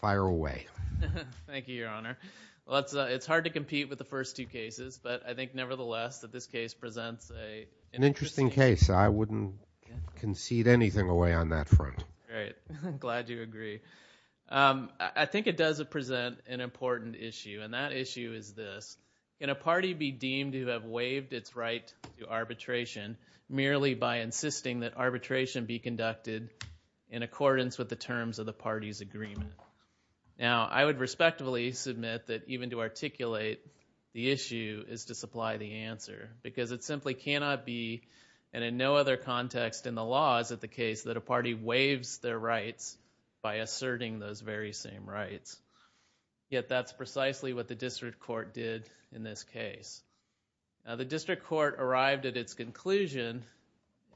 Fire away. Thank you, Your Honor. It's hard to compete with the first two cases, but I think nevertheless that this case presents an interesting case. I wouldn't concede anything away on that front. I'm glad you agree. I think it does present an important issue, and that issue is this. Can a party be deemed to have waived its right to arbitration merely by insisting that arbitration be conducted in accordance with the terms of the party's agreement? Now, I would respectfully submit that even to articulate the issue is to supply the answer, because it simply cannot be, and in no other context in the law is it the case that a party waives their rights by asserting those very same rights. Yet that's precisely what the district court did in this case. Now, the district court arrived at its conclusion,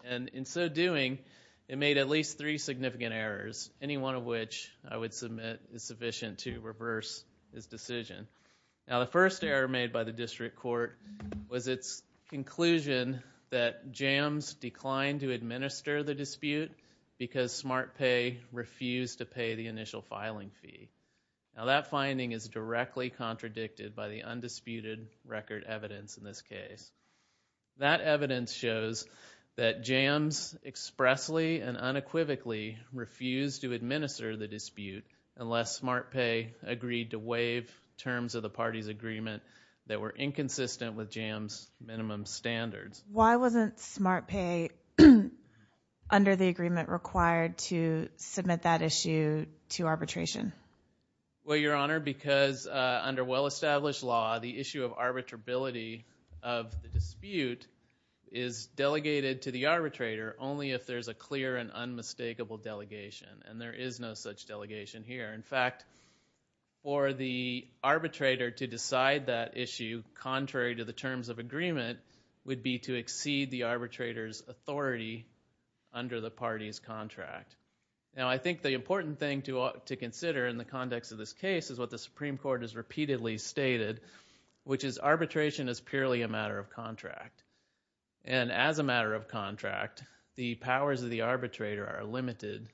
and in so doing, it made at least three significant errors, any one of which I would submit is sufficient to reverse this decision. Now, the first error made by the district court was its conclusion that JAMS declined to administer the dispute because SmartPay refused to pay the initial filing fee. Now, that finding is directly contradicted by the undisputed record evidence in this case. That evidence shows that JAMS expressly and unequivocally refused to administer the dispute unless SmartPay agreed to waive terms of the party's agreement that were inconsistent with JAMS' minimum standards. Why wasn't SmartPay, under the agreement, required to submit that issue to arbitration? Well, Your Honor, because under well-established law, the issue of arbitrability of the dispute is delegated to the arbitrator only if there's a clear and unmistakable delegation, and there is no such delegation here. In fact, for the arbitrator to decide that issue contrary to the terms of agreement would be to exceed the arbitrator's authority under the party's contract. Now, I think the important thing to consider in the context of this case is what the Supreme Court has repeatedly stated, which is arbitration is purely a matter of contract. And as a matter of contract, the powers of the arbitrator are limited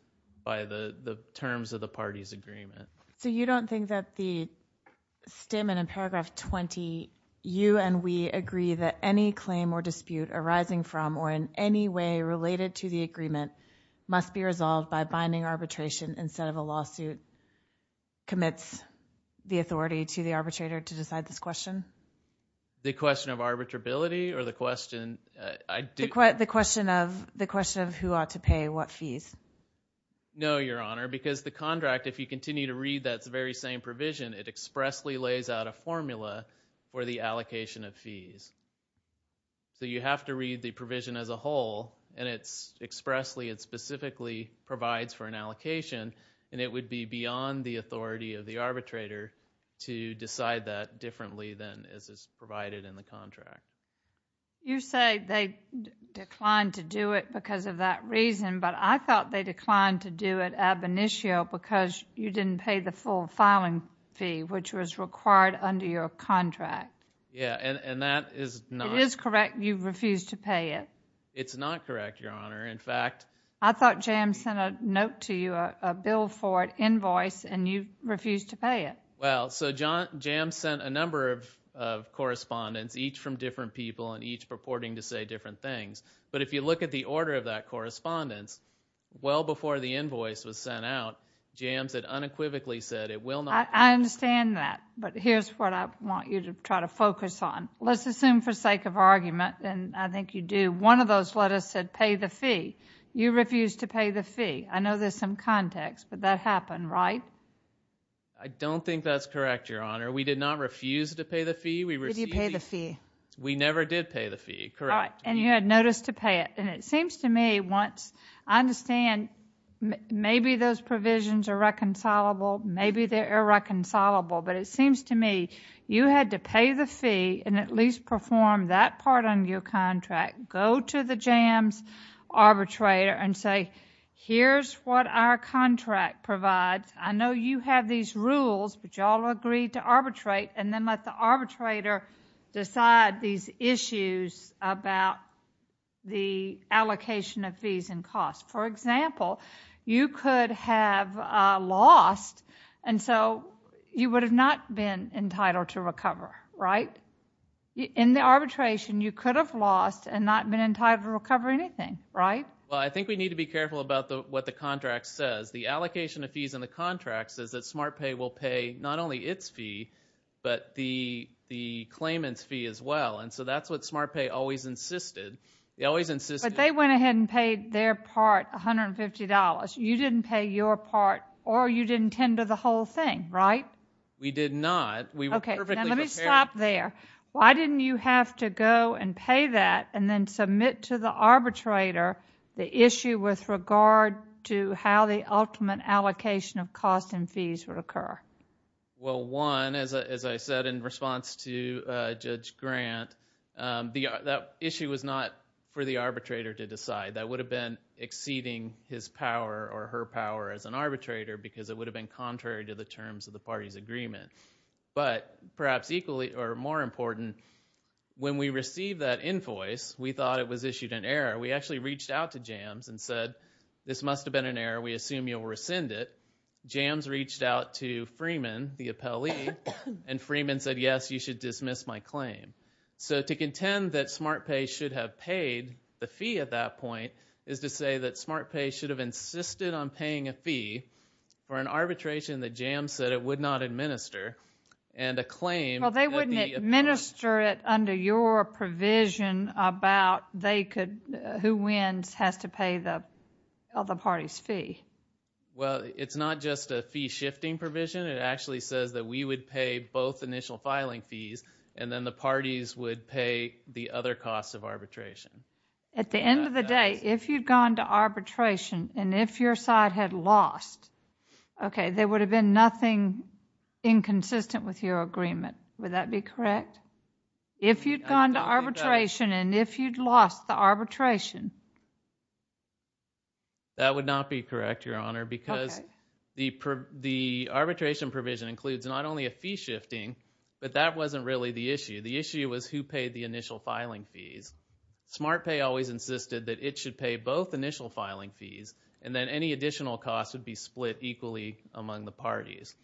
by the terms of the party's agreement. So you don't think that the statement in paragraph 20, you and we agree that any claim or dispute arising from or in any way related to the agreement must be resolved by binding arbitration instead of a lawsuit commits the authority to the arbitrator to decide this question? The question of arbitrability or the question of who ought to pay what fees? No, Your Honor, because the contract, if you continue to read that very same provision, it expressly lays out a formula for the allocation of fees. So you have to read the provision as a whole, and it's expressly and specifically provides for an allocation, and it would be beyond the authority of the arbitrator to decide that differently than is provided in the contract. You say they declined to do it because of that reason, but I thought they declined to do it ab initio because you didn't pay the full filing fee, which was required under your contract. Yeah, and that is not— It is correct you refused to pay it. It's not correct, Your Honor. In fact— I thought Jams sent a note to you, a bill for it, invoice, and you refused to pay it. Well, so Jams sent a number of correspondence, each from different people and each purporting to say different things. But if you look at the order of that correspondence, well before the invoice was sent out, Jams had unequivocally said it will not— I understand that, but here's what I want you to try to focus on. Let's assume for sake of argument, and I think you do, one of those letters said pay the fee. You refused to pay the fee. I know there's some context, but that happened, right? I don't think that's correct, Your Honor. We did not refuse to pay the fee. Did you pay the fee? We never did pay the fee, correct. All right, and you had notice to pay it, and it seems to me once— I understand maybe those provisions are reconcilable, maybe they're irreconcilable, but it seems to me you had to pay the fee and at least perform that part on your contract, go to the Jams arbitrator and say, here's what our contract provides. I know you have these rules, but you all agreed to arbitrate, and then let the arbitrator decide these issues about the allocation of fees and costs. For example, you could have lost, and so you would have not been entitled to recover, right? In the arbitration, you could have lost and not been entitled to recover anything, right? Well, I think we need to be careful about what the contract says. The allocation of fees in the contract says that SmartPay will pay not only its fee, but the claimant's fee as well, and so that's what SmartPay always insisted. They always insisted— But they went ahead and paid their part $150. You didn't pay your part, or you didn't tender the whole thing, right? We did not. We were perfectly prepared. Okay, now let me stop there. Why didn't you have to go and pay that and then submit to the arbitrator the issue with regard to how the ultimate allocation of costs and fees would occur? Well, one, as I said in response to Judge Grant, that issue was not for the arbitrator to decide. That would have been exceeding his power or her power as an arbitrator because it would have been contrary to the terms of the party's agreement. But perhaps more important, when we received that invoice, we thought it was issued in error. We actually reached out to JAMS and said, this must have been an error. We assume you'll rescind it. JAMS reached out to Freeman, the appellee, and Freeman said, yes, you should dismiss my claim. So to contend that SmartPay should have paid the fee at that point is to say that SmartPay should have insisted on paying a fee for an arbitration that JAMS said it would not administer and a claim. Well, they wouldn't administer it under your provision about who wins has to pay the other party's fee. Well, it's not just a fee-shifting provision. It actually says that we would pay both initial filing fees and then the parties would pay the other costs of arbitration. At the end of the day, if you'd gone to arbitration and if your side had lost, okay, there would have been nothing inconsistent with your agreement. Would that be correct? If you'd gone to arbitration and if you'd lost the arbitration. That would not be correct, Your Honor, because the arbitration provision includes not only a fee-shifting, but that wasn't really the issue. The issue was who paid the initial filing fees. SmartPay always insisted that it should pay both initial filing fees and then any additional costs would be split equally among the parties.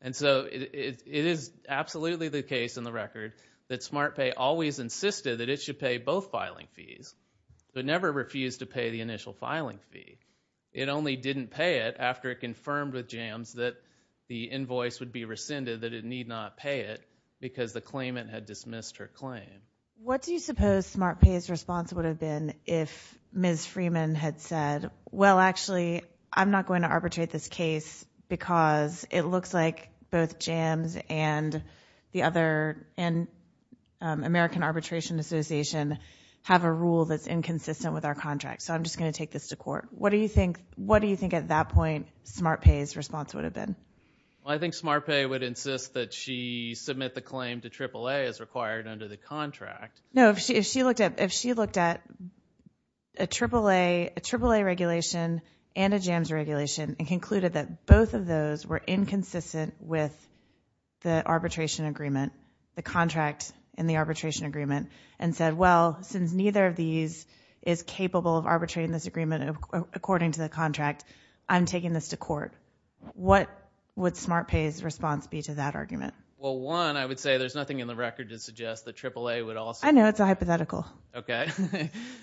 And so it is absolutely the case in the record that SmartPay always insisted that it should pay both filing fees but never refused to pay the initial filing fee. It only didn't pay it after it confirmed with JAMS that the invoice would be rescinded, that it need not pay it because the claimant had dismissed her claim. What do you suppose SmartPay's response would have been if Ms. Freeman had said, well, actually, I'm not going to arbitrate this case because it looks like both JAMS and the other American Arbitration Association have a rule that's inconsistent with our contract, so I'm just going to take this to court. What do you think at that point SmartPay's response would have been? I think SmartPay would insist that she submit the claim to AAA as required under the contract. No, if she looked at a AAA regulation and a JAMS regulation and concluded that both of those were inconsistent with the arbitration agreement, the contract and the arbitration agreement, and said, well, since neither of these is capable of arbitrating this agreement according to the contract, I'm taking this to court. What would SmartPay's response be to that argument? Well, one, I would say there's nothing in the record to suggest that AAA would also... I know, it's a hypothetical. Okay.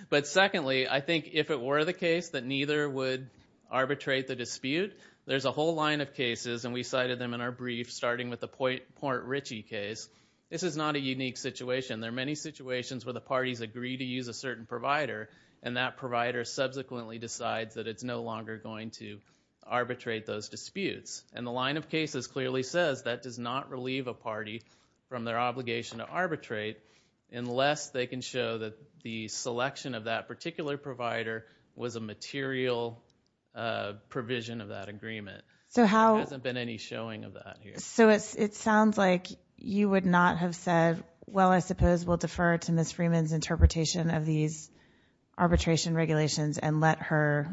But secondly, I think if it were the case that neither would arbitrate the dispute, there's a whole line of cases, and we cited them in our brief, starting with the Port Richey case. This is not a unique situation. There are many situations where the parties agree to use a certain provider, and that provider subsequently decides that it's no longer going to arbitrate those disputes. And the line of cases clearly says that does not relieve a party from their obligation to arbitrate unless they can show that the selection of that particular provider was a material provision of that agreement. So how... There hasn't been any showing of that here. So it sounds like you would not have said, well, I suppose we'll defer to Ms. Freeman's interpretation of these arbitration regulations and let her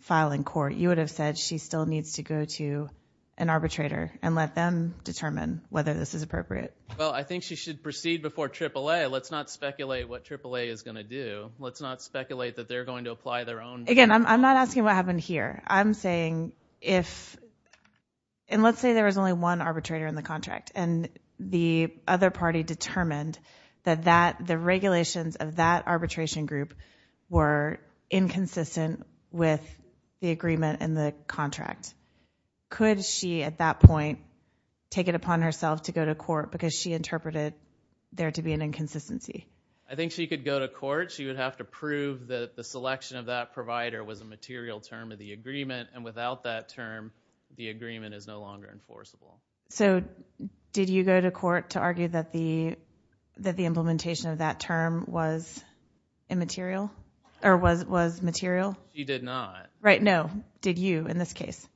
file in court. Or you would have said she still needs to go to an arbitrator and let them determine whether this is appropriate. Well, I think she should proceed before AAA. Let's not speculate what AAA is going to do. Let's not speculate that they're going to apply their own... Again, I'm not asking what happened here. I'm saying if... And let's say there was only one arbitrator in the contract, and the other party determined that the regulations of that arbitration group were inconsistent with the agreement in the contract. Could she, at that point, take it upon herself to go to court because she interpreted there to be an inconsistency? I think she could go to court. She would have to prove that the selection of that provider was a material term of the agreement, and without that term, the agreement is no longer enforceable. So did you go to court to argue that the implementation of that term was immaterial? Or was material? She did not. Right, no. Did you, in this case?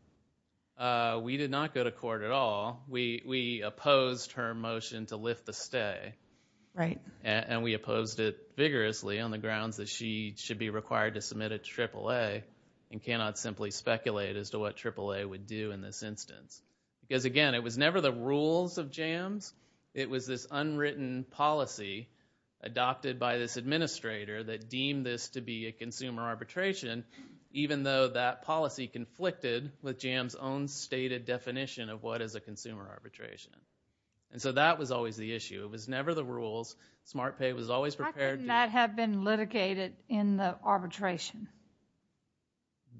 We did not go to court at all. We opposed her motion to lift the stay. Right. And we opposed it vigorously on the grounds that she should be required to submit a AAA and cannot simply speculate as to what AAA would do in this instance. Because, again, it was never the rules of JAMS. It was this unwritten policy adopted by this administrator that deemed this to be a consumer arbitration, even though that policy conflicted with JAMS' own stated definition of what is a consumer arbitration. And so that was always the issue. It was never the rules. SmartPay was always prepared to... How could that have been litigated in the arbitration?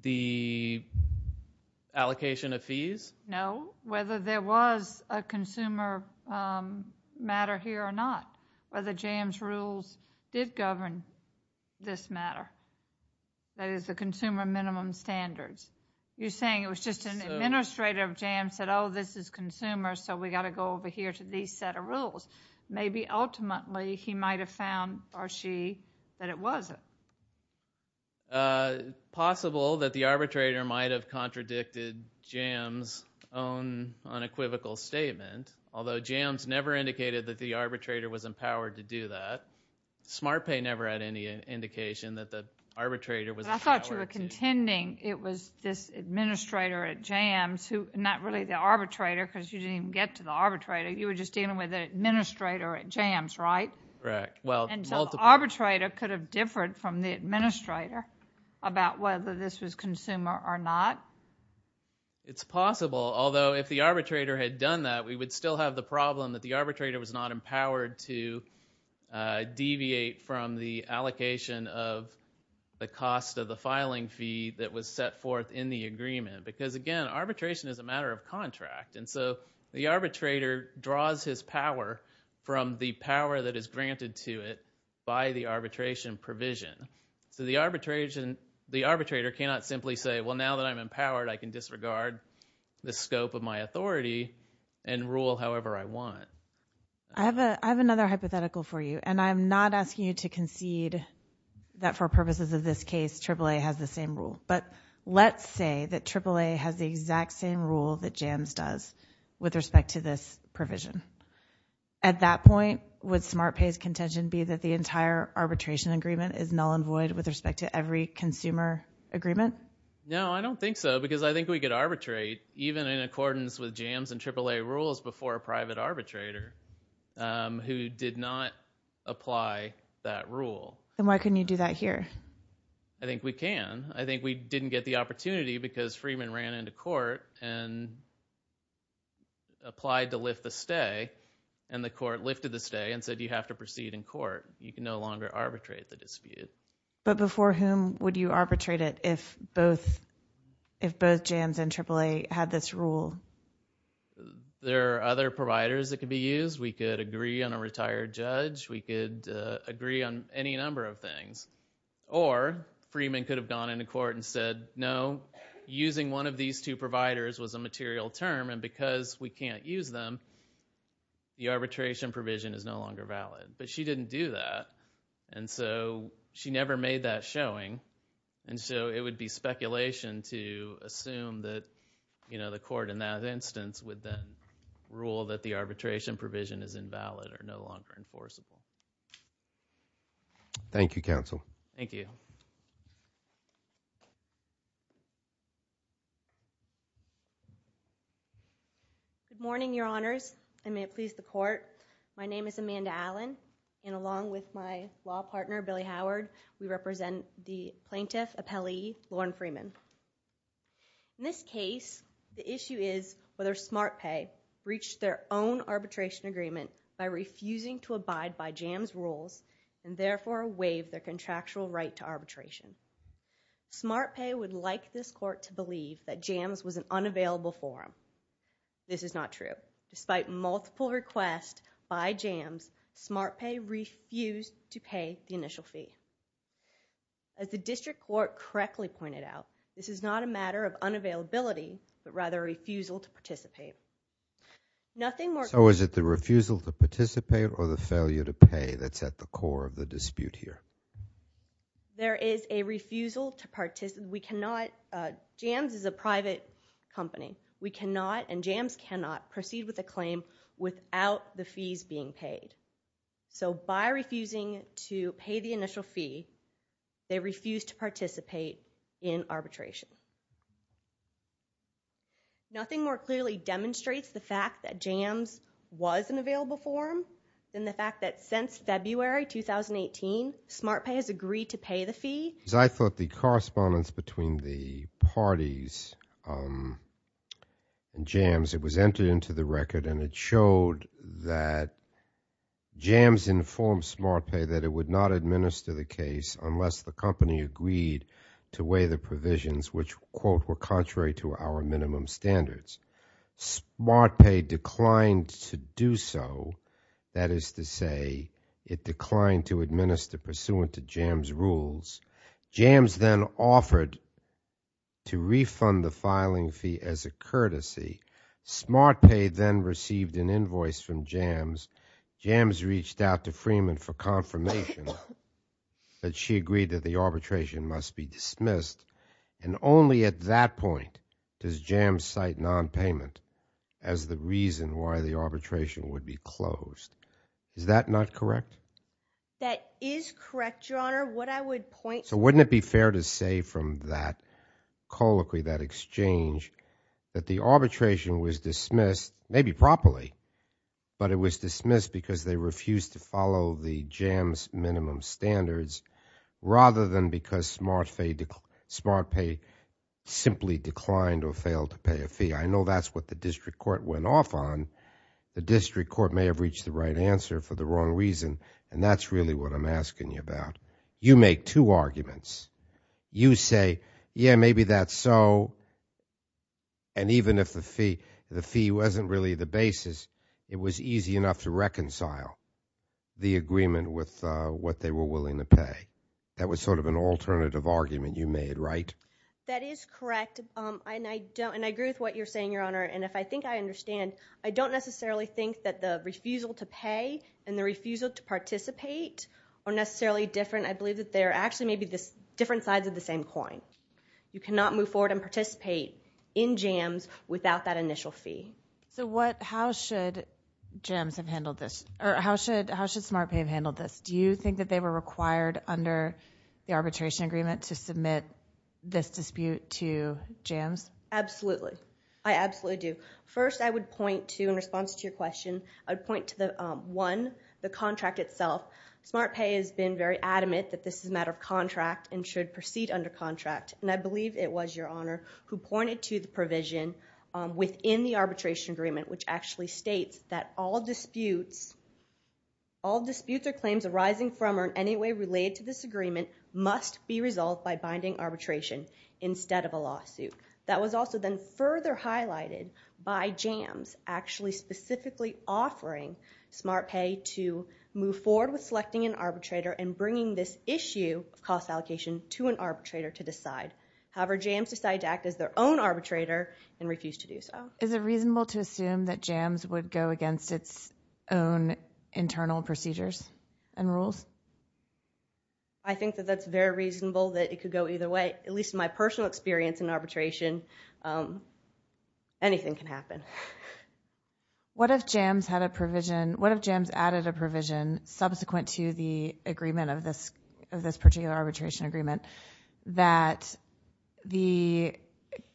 The allocation of fees? No. Whether there was a consumer matter here or not. Whether JAMS' rules did govern this matter. That is, the consumer minimum standards. You're saying it was just an administrator of JAMS that said, oh, this is consumer, so we got to go over here to these set of rules. Maybe, ultimately, he might have found, or she, that it wasn't. It's possible that the arbitrator might have contradicted JAMS' own unequivocal statement. Although, JAMS never indicated that the arbitrator was empowered to do that. SmartPay never had any indication that the arbitrator was empowered to do that. But I thought you were contending it was this administrator at JAMS who... Not really the arbitrator, because you didn't even get to the arbitrator. You were just dealing with an administrator at JAMS, right? Correct. So the arbitrator could have differed from the administrator about whether this was consumer or not? It's possible. Although, if the arbitrator had done that, we would still have the problem that the arbitrator was not empowered to deviate from the allocation of the cost of the filing fee that was set forth in the agreement. Because, again, arbitration is a matter of contract. And so the arbitrator draws his power from the power that is granted to it by the arbitration provision. So the arbitrator cannot simply say, well, now that I'm empowered, I can disregard the scope of my authority and rule however I want. I have another hypothetical for you. And I'm not asking you to concede that for purposes of this case, AAA has the same rule. But let's say that AAA has the exact same rule that JAMS does with respect to this provision. At that point, would SmartPay's contention be that the entire arbitration agreement is null and void with respect to every consumer agreement? No, I don't think so, because I think we could arbitrate, even in accordance with JAMS and AAA rules, before a private arbitrator who did not apply that rule. Then why couldn't you do that here? I think we can. I think we didn't get the opportunity because Freeman ran into court and applied to lift the stay, and the court lifted the stay and said you have to proceed in court. You can no longer arbitrate the dispute. But before whom would you arbitrate it if both JAMS and AAA had this rule? There are other providers that could be used. We could agree on a retired judge. We could agree on any number of things. Or Freeman could have gone into court and said, no, using one of these two providers was a material term, and because we can't use them, the arbitration provision is no longer valid. But she didn't do that, and so she never made that showing. And so it would be speculation to assume that the court in that instance would then rule that the arbitration provision is invalid or no longer enforceable. Thank you, counsel. Thank you. Good morning, Your Honors, and may it please the court. My name is Amanda Allen, and along with my law partner, Billy Howard, we represent the plaintiff, appellee Lauren Freeman. In this case, the issue is whether SmartPay breached their own arbitration agreement by refusing to abide by JAMS rules and therefore waived their contractual right to arbitration. SmartPay would like this court to believe that JAMS was an unavailable forum. This is not true. Despite multiple requests by JAMS, SmartPay refused to pay the initial fee. As the district court correctly pointed out, this is not a matter of unavailability, but rather a refusal to participate. So is it the refusal to participate or the failure to pay that's at the core of the dispute here? There is a refusal to participate. We cannot... JAMS is a private company. We cannot and JAMS cannot proceed with a claim without the fees being paid. So by refusing to pay the initial fee, they refused to participate in arbitration. Nothing more clearly demonstrates the fact that JAMS was an available forum than the fact that since February 2018, SmartPay has agreed to pay the fee. I thought the correspondence between the parties and JAMS, it was entered into the record and it showed that JAMS informed SmartPay that it would not administer the case unless the company agreed to weigh the provisions which, quote, were contrary to our minimum standards. SmartPay declined to do so. That is to say, it declined to administer pursuant to JAMS' rules. JAMS then offered to refund the filing fee as a courtesy. SmartPay then received an invoice from JAMS. JAMS reached out to Freeman for confirmation that she agreed that the arbitration must be dismissed. And only at that point does JAMS cite nonpayment as the reason why the arbitration would be closed. Is that not correct? That is correct, Your Honor. What I would point... So wouldn't it be fair to say from that colloquy, that exchange, that the arbitration was dismissed, maybe properly, but it was dismissed because they refused to follow the JAMS minimum standards rather than because SmartPay simply declined or failed to pay a fee? I know that's what the district court went off on. The district court may have reached the right answer for the wrong reason, and that's really what I'm asking you about. You make two arguments. You say, yeah, maybe that's so, and even if the fee wasn't really the basis, it was easy enough to reconcile the agreement with what they were willing to pay. That was sort of an alternative argument you made, right? That is correct, and I agree with what you're saying, Your Honor, and if I think I understand, I don't necessarily think that the refusal to pay and the refusal to participate are necessarily different. I believe that they're actually maybe different sides of the same coin. You cannot move forward and participate in JAMS without that initial fee. So how should JAMS have handled this? Or how should SmartPay have handled this? Do you think that they were required under the arbitration agreement to submit this dispute to JAMS? Absolutely. I absolutely do. First, I would point to, in response to your question, I would point to, one, the contract itself. SmartPay has been very adamant that this is a matter of contract and should proceed under contract, and I believe it was Your Honor who pointed to the provision within the arbitration agreement, which actually states that all disputes, all disputes or claims arising from or in any way related to this agreement must be resolved by binding arbitration instead of a lawsuit. That was also then further highlighted by JAMS actually specifically offering SmartPay to move forward with selecting an arbitrator and bringing this issue of cost allocation to an arbitrator to decide. However, JAMS decided to act as their own arbitrator and refused to do so. Is it reasonable to assume that JAMS would go against its own internal procedures and rules? I think that that's very reasonable, that it could go either way. At least in my personal experience in arbitration, anything can happen. What if JAMS had a provision, what if JAMS added a provision subsequent to the agreement of this particular arbitration agreement that the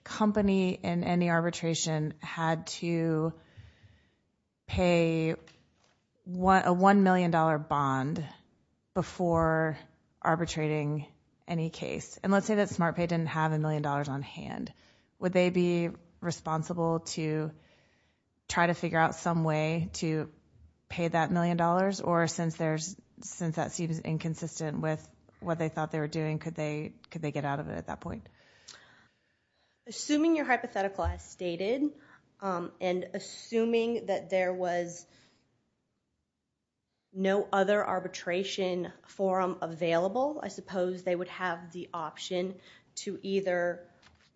company in any arbitration had to pay a $1 million bond before arbitrating any case? And let's say that SmartPay didn't have $1 million on hand. Would they be responsible to try to figure out some way to pay that $1 million? Or since that seems inconsistent with what they thought they were doing, could they get out of it at that point? Assuming your hypothetical as stated and assuming that there was no other arbitration forum available, I suppose they would have the option to either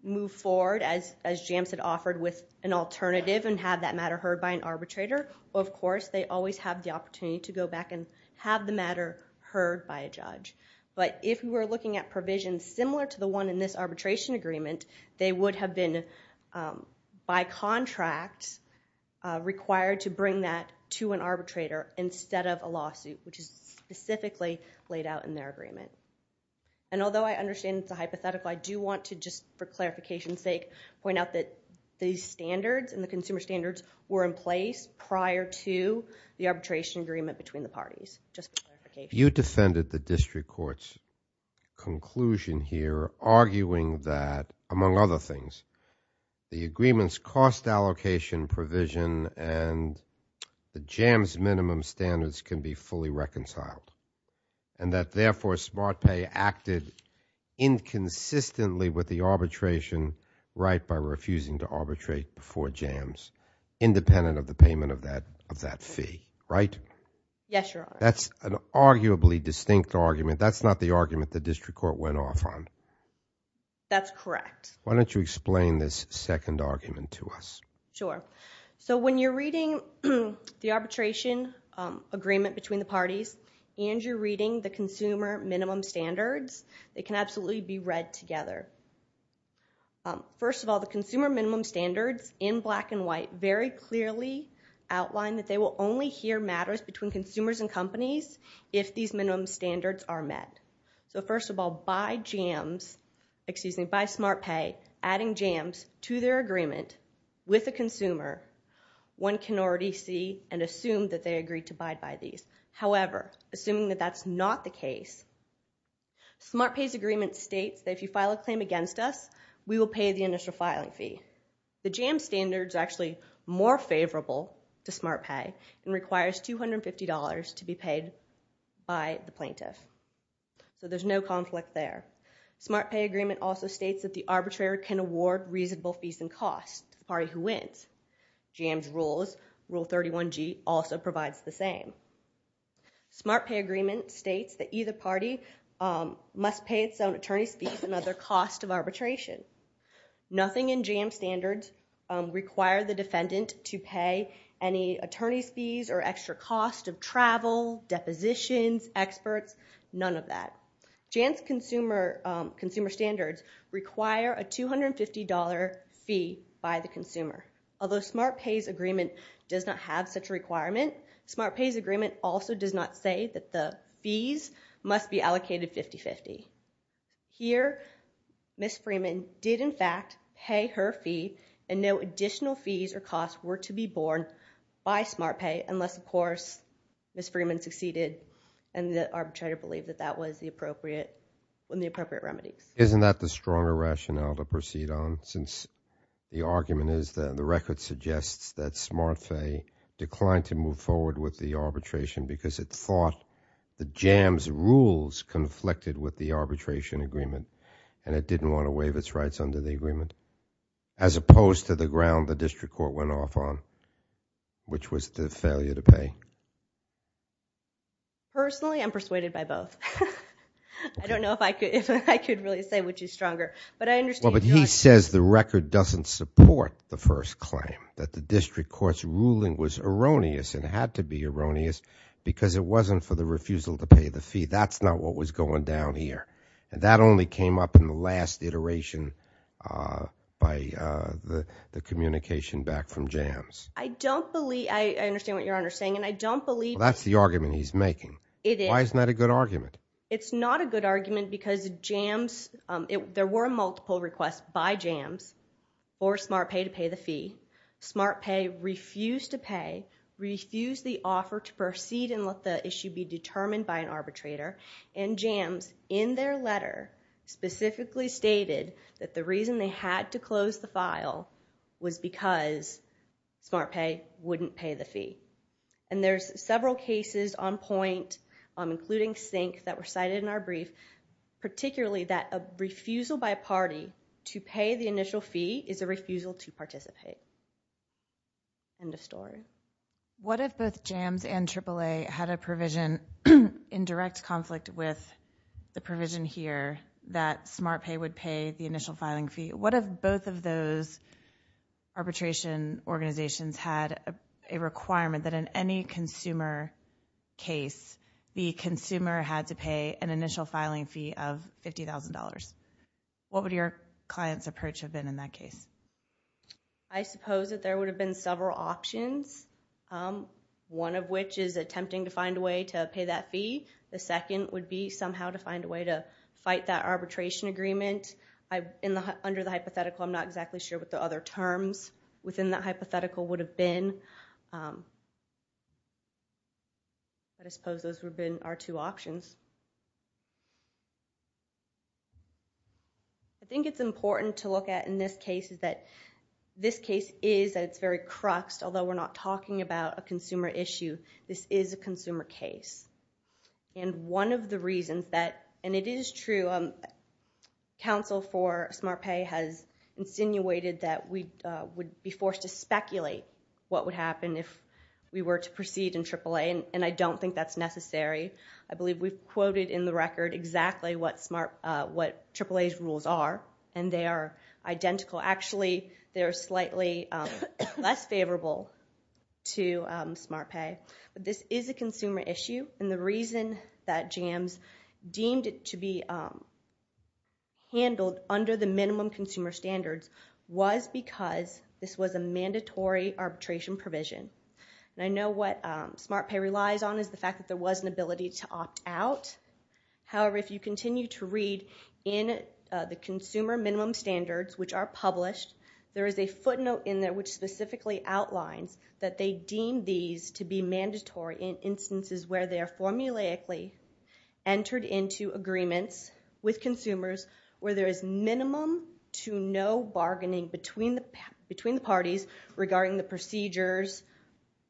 move forward as JAMS had offered with an alternative and have that matter heard by an arbitrator, or of course, they always have the opportunity to go back and have the matter heard by a judge. But if we're looking at provisions similar to the one in this arbitration agreement, they would have been, by contract, required to bring that to an arbitrator instead of a lawsuit, which is specifically laid out in their agreement. And although I understand it's a hypothetical, I do want to, just for clarification's sake, point out that the standards and the consumer standards were in place prior to the arbitration agreement between the parties, just for clarification. You defended the district court's conclusion here, arguing that, among other things, the agreement's cost allocation provision and the JAMS minimum standards can be fully reconciled, and that therefore SmartPay acted inconsistently with the arbitration right by refusing to arbitrate before JAMS, independent of the payment of that fee, right? Yes, Your Honor. That's an arguably distinct argument. That's not the argument the district court went off on. That's correct. Why don't you explain this second argument to us? Sure. So when you're reading the arbitration agreement between the parties, and you're reading the consumer minimum standards, they can absolutely be read together. First of all, the consumer minimum standards in black and white very clearly outline that they will only hear matters between consumers and companies if these minimum standards are met. So first of all, by SmartPay adding JAMS to their agreement with a consumer, one can already see and assume that they agreed to buy by these. However, assuming that that's not the case, SmartPay's agreement states that if you file a claim against us, we will pay the initial filing fee. The JAMS standard is actually more favorable to SmartPay and requires $250 to be paid by the plaintiff. So there's no conflict there. SmartPay agreement also states that the arbitrator can award reasonable fees and costs to the party who wins. JAMS rules, Rule 31G, also provides the same. SmartPay agreement states that either party must pay its own attorney's fees with another cost of arbitration. Nothing in JAMS standards require the defendant to pay any attorney's fees or extra cost of travel, depositions, experts, none of that. JAMS consumer standards require a $250 fee by the consumer. Although SmartPay's agreement does not have such a requirement, SmartPay's agreement also does not say that the fees must be allocated 50-50. Here, Ms. Freeman did, in fact, pay her fee and no additional fees or costs were to be borne by SmartPay unless, of course, Ms. Freeman succeeded and the arbitrator believed that that was the appropriate remedies. Isn't that the stronger rationale to proceed on since the argument is that the record suggests that SmartPay declined to move forward with the arbitration because it thought the JAMS rules conflicted with the arbitration agreement and it didn't want to waive its rights under the agreement as opposed to the ground the district court went off on, which was the failure to pay? Personally, I'm persuaded by both. I don't know if I could really say which is stronger. But he says the record doesn't support the first claim, that the district court's ruling was erroneous and had to be erroneous because it wasn't for the refusal to pay the fee. That's not what was going down here. And that only came up in the last iteration by the communication back from JAMS. I don't believe... I understand what Your Honor is saying, and I don't believe... That's the argument he's making. Why isn't that a good argument? It's not a good argument because JAMS... There were multiple requests by JAMS for SmartPay to pay the fee. SmartPay refused to pay, refused the offer to proceed and let the issue be determined by an arbitrator. And JAMS, in their letter, specifically stated that the reason they had to close the file was because SmartPay wouldn't pay the fee. And there's several cases on point, including Sink, that were cited in our brief, particularly that a refusal by a party to pay the initial fee is a refusal to participate. End of story. What if both JAMS and AAA had a provision in direct conflict with the provision here that SmartPay would pay the initial filing fee? What if both of those arbitration organizations had a requirement that in any consumer case, the consumer had to pay an initial filing fee of $50,000? What would your client's approach have been in that case? I suppose that there would have been several options, one of which is attempting to find a way to pay that fee. The second would be somehow to find a way to fight that arbitration agreement. Under the hypothetical, I'm not exactly sure what the other terms within that hypothetical would have been. I suppose those would have been our two options. I think it's important to look at in this case that this case is very cruxed, although we're not talking about a consumer issue. This is a consumer case. And one of the reasons that, and it is true, counsel for SmartPay has insinuated that we would be forced to speculate what would happen if we were to proceed in AAA, and I don't think that's necessary. I believe we've quoted in the record exactly what AAA's rules are, and they are identical. Actually, they're slightly less favorable to SmartPay. But this is a consumer issue, and the reason that JAMS deemed it to be handled under the minimum consumer standards was because this was a mandatory arbitration provision. And I know what SmartPay relies on is the fact that there was an ability to opt out. However, if you continue to read in the consumer minimum standards, which are published, there is a footnote in there which specifically outlines that they deem these to be mandatory in instances where they are formulaically entered into agreements with consumers where there is minimum to no bargaining between the parties regarding the procedures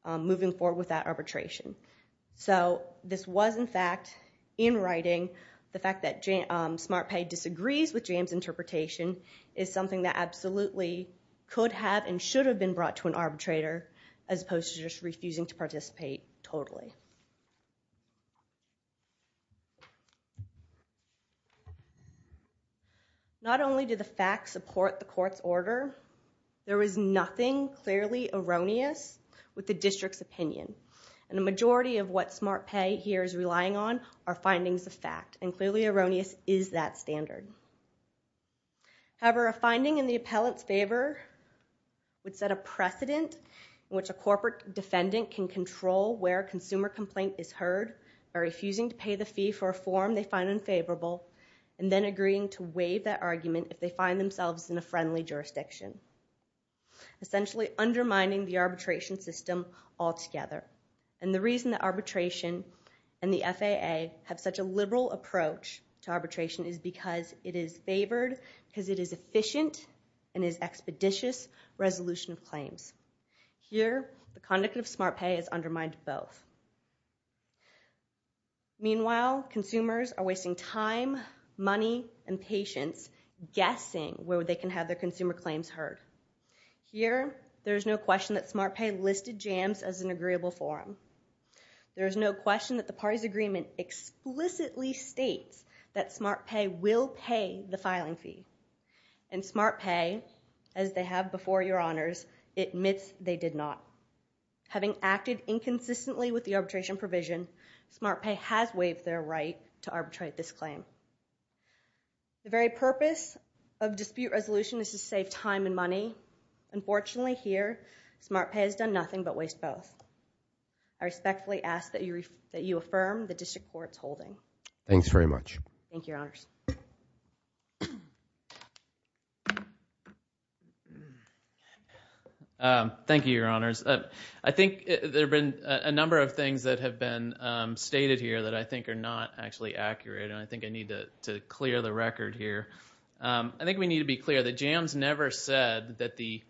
moving forward with that arbitration. So this was, in fact, in writing, the fact that SmartPay disagrees with JAMS interpretation is something that absolutely could have and should have been brought to an arbitrator as opposed to just refusing to participate totally. Not only did the facts support the court's order, there was nothing clearly erroneous with the district's opinion. And the majority of what SmartPay here is relying on are findings of fact. And clearly erroneous is that standard. However, a finding in the appellant's favor would set a precedent in which a corporate defendant can control where a consumer complaint is heard by refusing to pay the fee for a form they find unfavorable and then agreeing to waive that argument if they find themselves in a friendly jurisdiction, essentially undermining the arbitration system altogether. And the reason that arbitration and the FAA have such a liberal approach to arbitration is because it is favored, because it is efficient, and is expeditious resolution of claims. Here, the conduct of SmartPay has undermined both. Meanwhile, consumers are wasting time, money, and patience guessing where they can have their consumer claims heard. Here, there is no question that SmartPay listed jams as an agreeable form. There is no question that the party's agreement explicitly states that SmartPay will pay the filing fee. And SmartPay, as they have before your honors, admits they did not. Having acted inconsistently with the arbitration provision, SmartPay has waived their right to arbitrate this claim. The very purpose of dispute resolution is to save time and money. Unfortunately, here, SmartPay has done nothing but waste both. I respectfully ask that you affirm the district court's holding. Thanks very much. Thank you, your honors. Thank you, your honors. I think there have been a number of things that have been stated here that I think are not actually accurate, and I think I need to clear the record here. I think we need to be clear that jams never said that the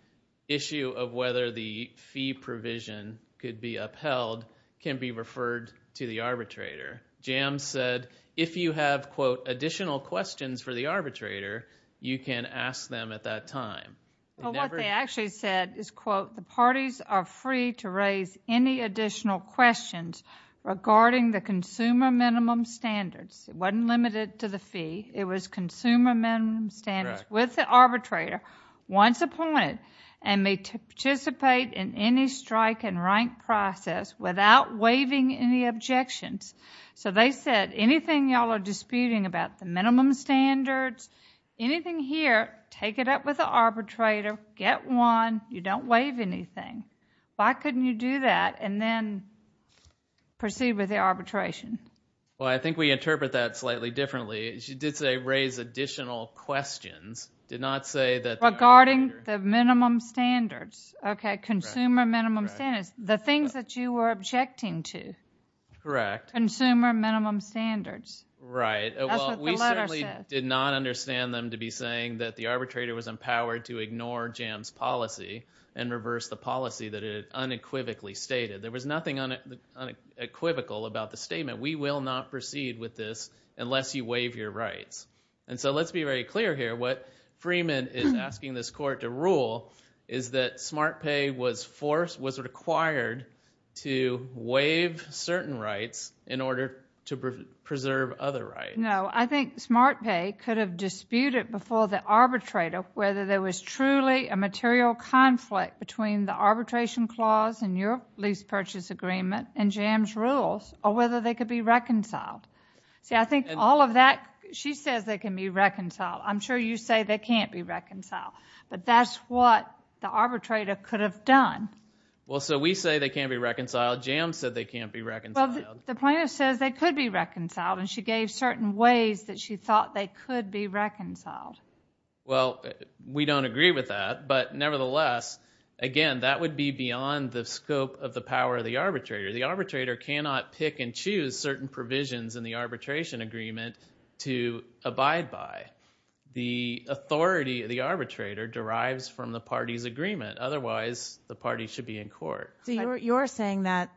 issue of whether the fee provision could be upheld can be referred to the arbitrator. Jams said if you have, quote, additional questions for the arbitrator, you can ask them at that time. What they actually said is, quote, the parties are free to raise any additional questions regarding the consumer minimum standards. It wasn't limited to the fee. It was consumer minimum standards with the arbitrator once appointed and may participate in any strike and rank process without waiving any objections. So they said anything y'all are disputing about the minimum standards, anything here, take it up with the arbitrator, get one, you don't waive anything. Why couldn't you do that and then proceed with the arbitration? Well, I think we interpret that slightly differently. She did say raise additional questions. Did not say that... Regarding the minimum standards. Okay, consumer minimum standards. The things that you were objecting to. Correct. Consumer minimum standards. Right. That's what the letter said. We certainly did not understand them to be saying that the arbitrator was empowered to ignore jams policy and reverse the policy that it unequivocally stated. There was nothing unequivocal about the statement. We will not proceed with this unless you waive your rights. And so let's be very clear here. What Freeman is asking this court to rule is that SmartPay was required to waive certain rights in order to preserve other rights. No, I think SmartPay could have disputed before the arbitrator whether there was truly a material conflict between the arbitration clause and your lease purchase agreement and jams rules or whether they could be reconciled. See, I think all of that... She says they can be reconciled. I'm sure you say they can't be reconciled. But that's what the arbitrator could have done. Well, so we say they can't be reconciled. Jams said they can't be reconciled. Well, the plaintiff says they could be reconciled and she gave certain ways that she thought they could be reconciled. Well, we don't agree with that. But nevertheless, again, that would be beyond the scope of the power of the arbitrator. The arbitrator cannot pick and choose certain provisions in the arbitration agreement to abide by. The authority of the arbitrator derives from the party's agreement. Otherwise, the party should be in court. So you're saying that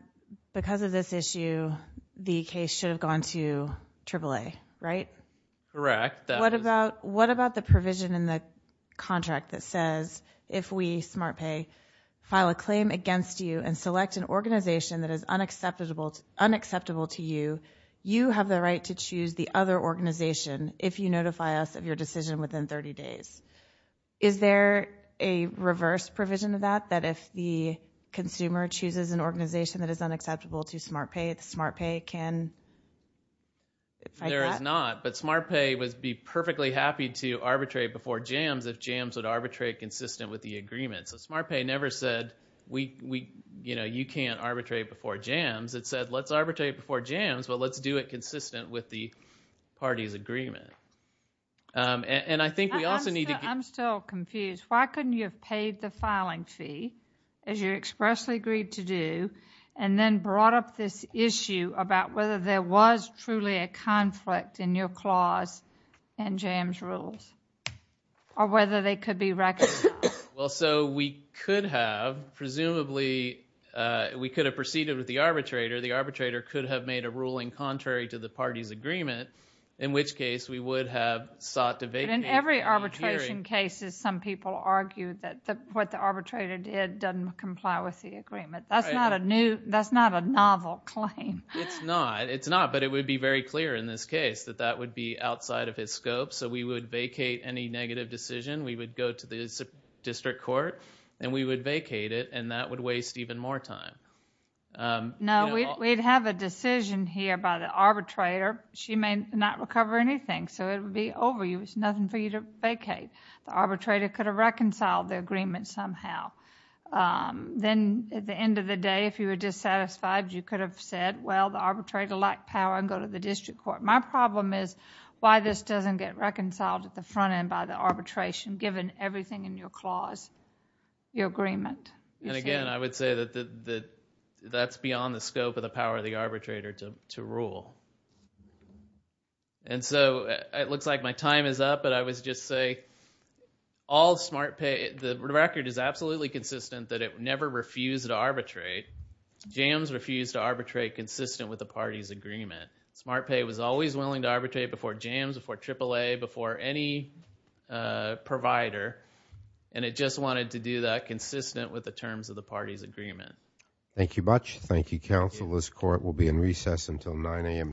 because of this issue, the case should have gone to AAA, right? Correct. What about the provision in the contract that says if we, SmartPay, file a claim against you and select an organization that is unacceptable to you, you have the right to choose the other organization if you notify us of your decision within 30 days. Is there a reverse provision of that, that if the consumer chooses an organization that is unacceptable to SmartPay, SmartPay can fight that? There is not. But SmartPay would be perfectly happy to arbitrate before Jams if Jams would arbitrate consistent with the agreement. So SmartPay never said, you can't arbitrate before Jams. It said, let's arbitrate before Jams, but let's do it consistent with the party's agreement. I'm still confused. Why couldn't you have paid the filing fee, as you expressly agreed to do, and then brought up this issue about whether there was truly a conflict in your clause and Jams' rules, or whether they could be recognized? Well, so we could have, presumably, we could have proceeded with the arbitrator. The arbitrator could have made a ruling contrary to the party's agreement, in which case we would have sought to vacate. But in every arbitration case, some people argue that what the arbitrator did doesn't comply with the agreement. That's not a novel claim. It's not, but it would be very clear in this case that that would be outside of his scope. So we would vacate any negative decision. We would go to the district court, and we would vacate it, and that would waste even more time. No, we'd have a decision here by the arbitrator. She may not recover anything, so it would be over you. It's nothing for you to vacate. The arbitrator could have reconciled the agreement somehow. Then, at the end of the day, if you were dissatisfied, you could have said, well, the arbitrator lacked power, and go to the district court. My problem is why this doesn't get reconciled at the front end by the arbitration, given everything in your clause, your agreement. And again, I would say that that's beyond the scope of the power of the arbitrator to rule. And so it looks like my time is up, but I would just say all SmartPay, the record is absolutely consistent that it never refused to arbitrate. JAMS refused to arbitrate consistent with the party's agreement. SmartPay was always willing to arbitrate before JAMS, before AAA, before any provider, and it just wanted to do that consistent with the terms of the party's agreement. Thank you much. Thank you, counsel. This court will be in recess until 9 a.m.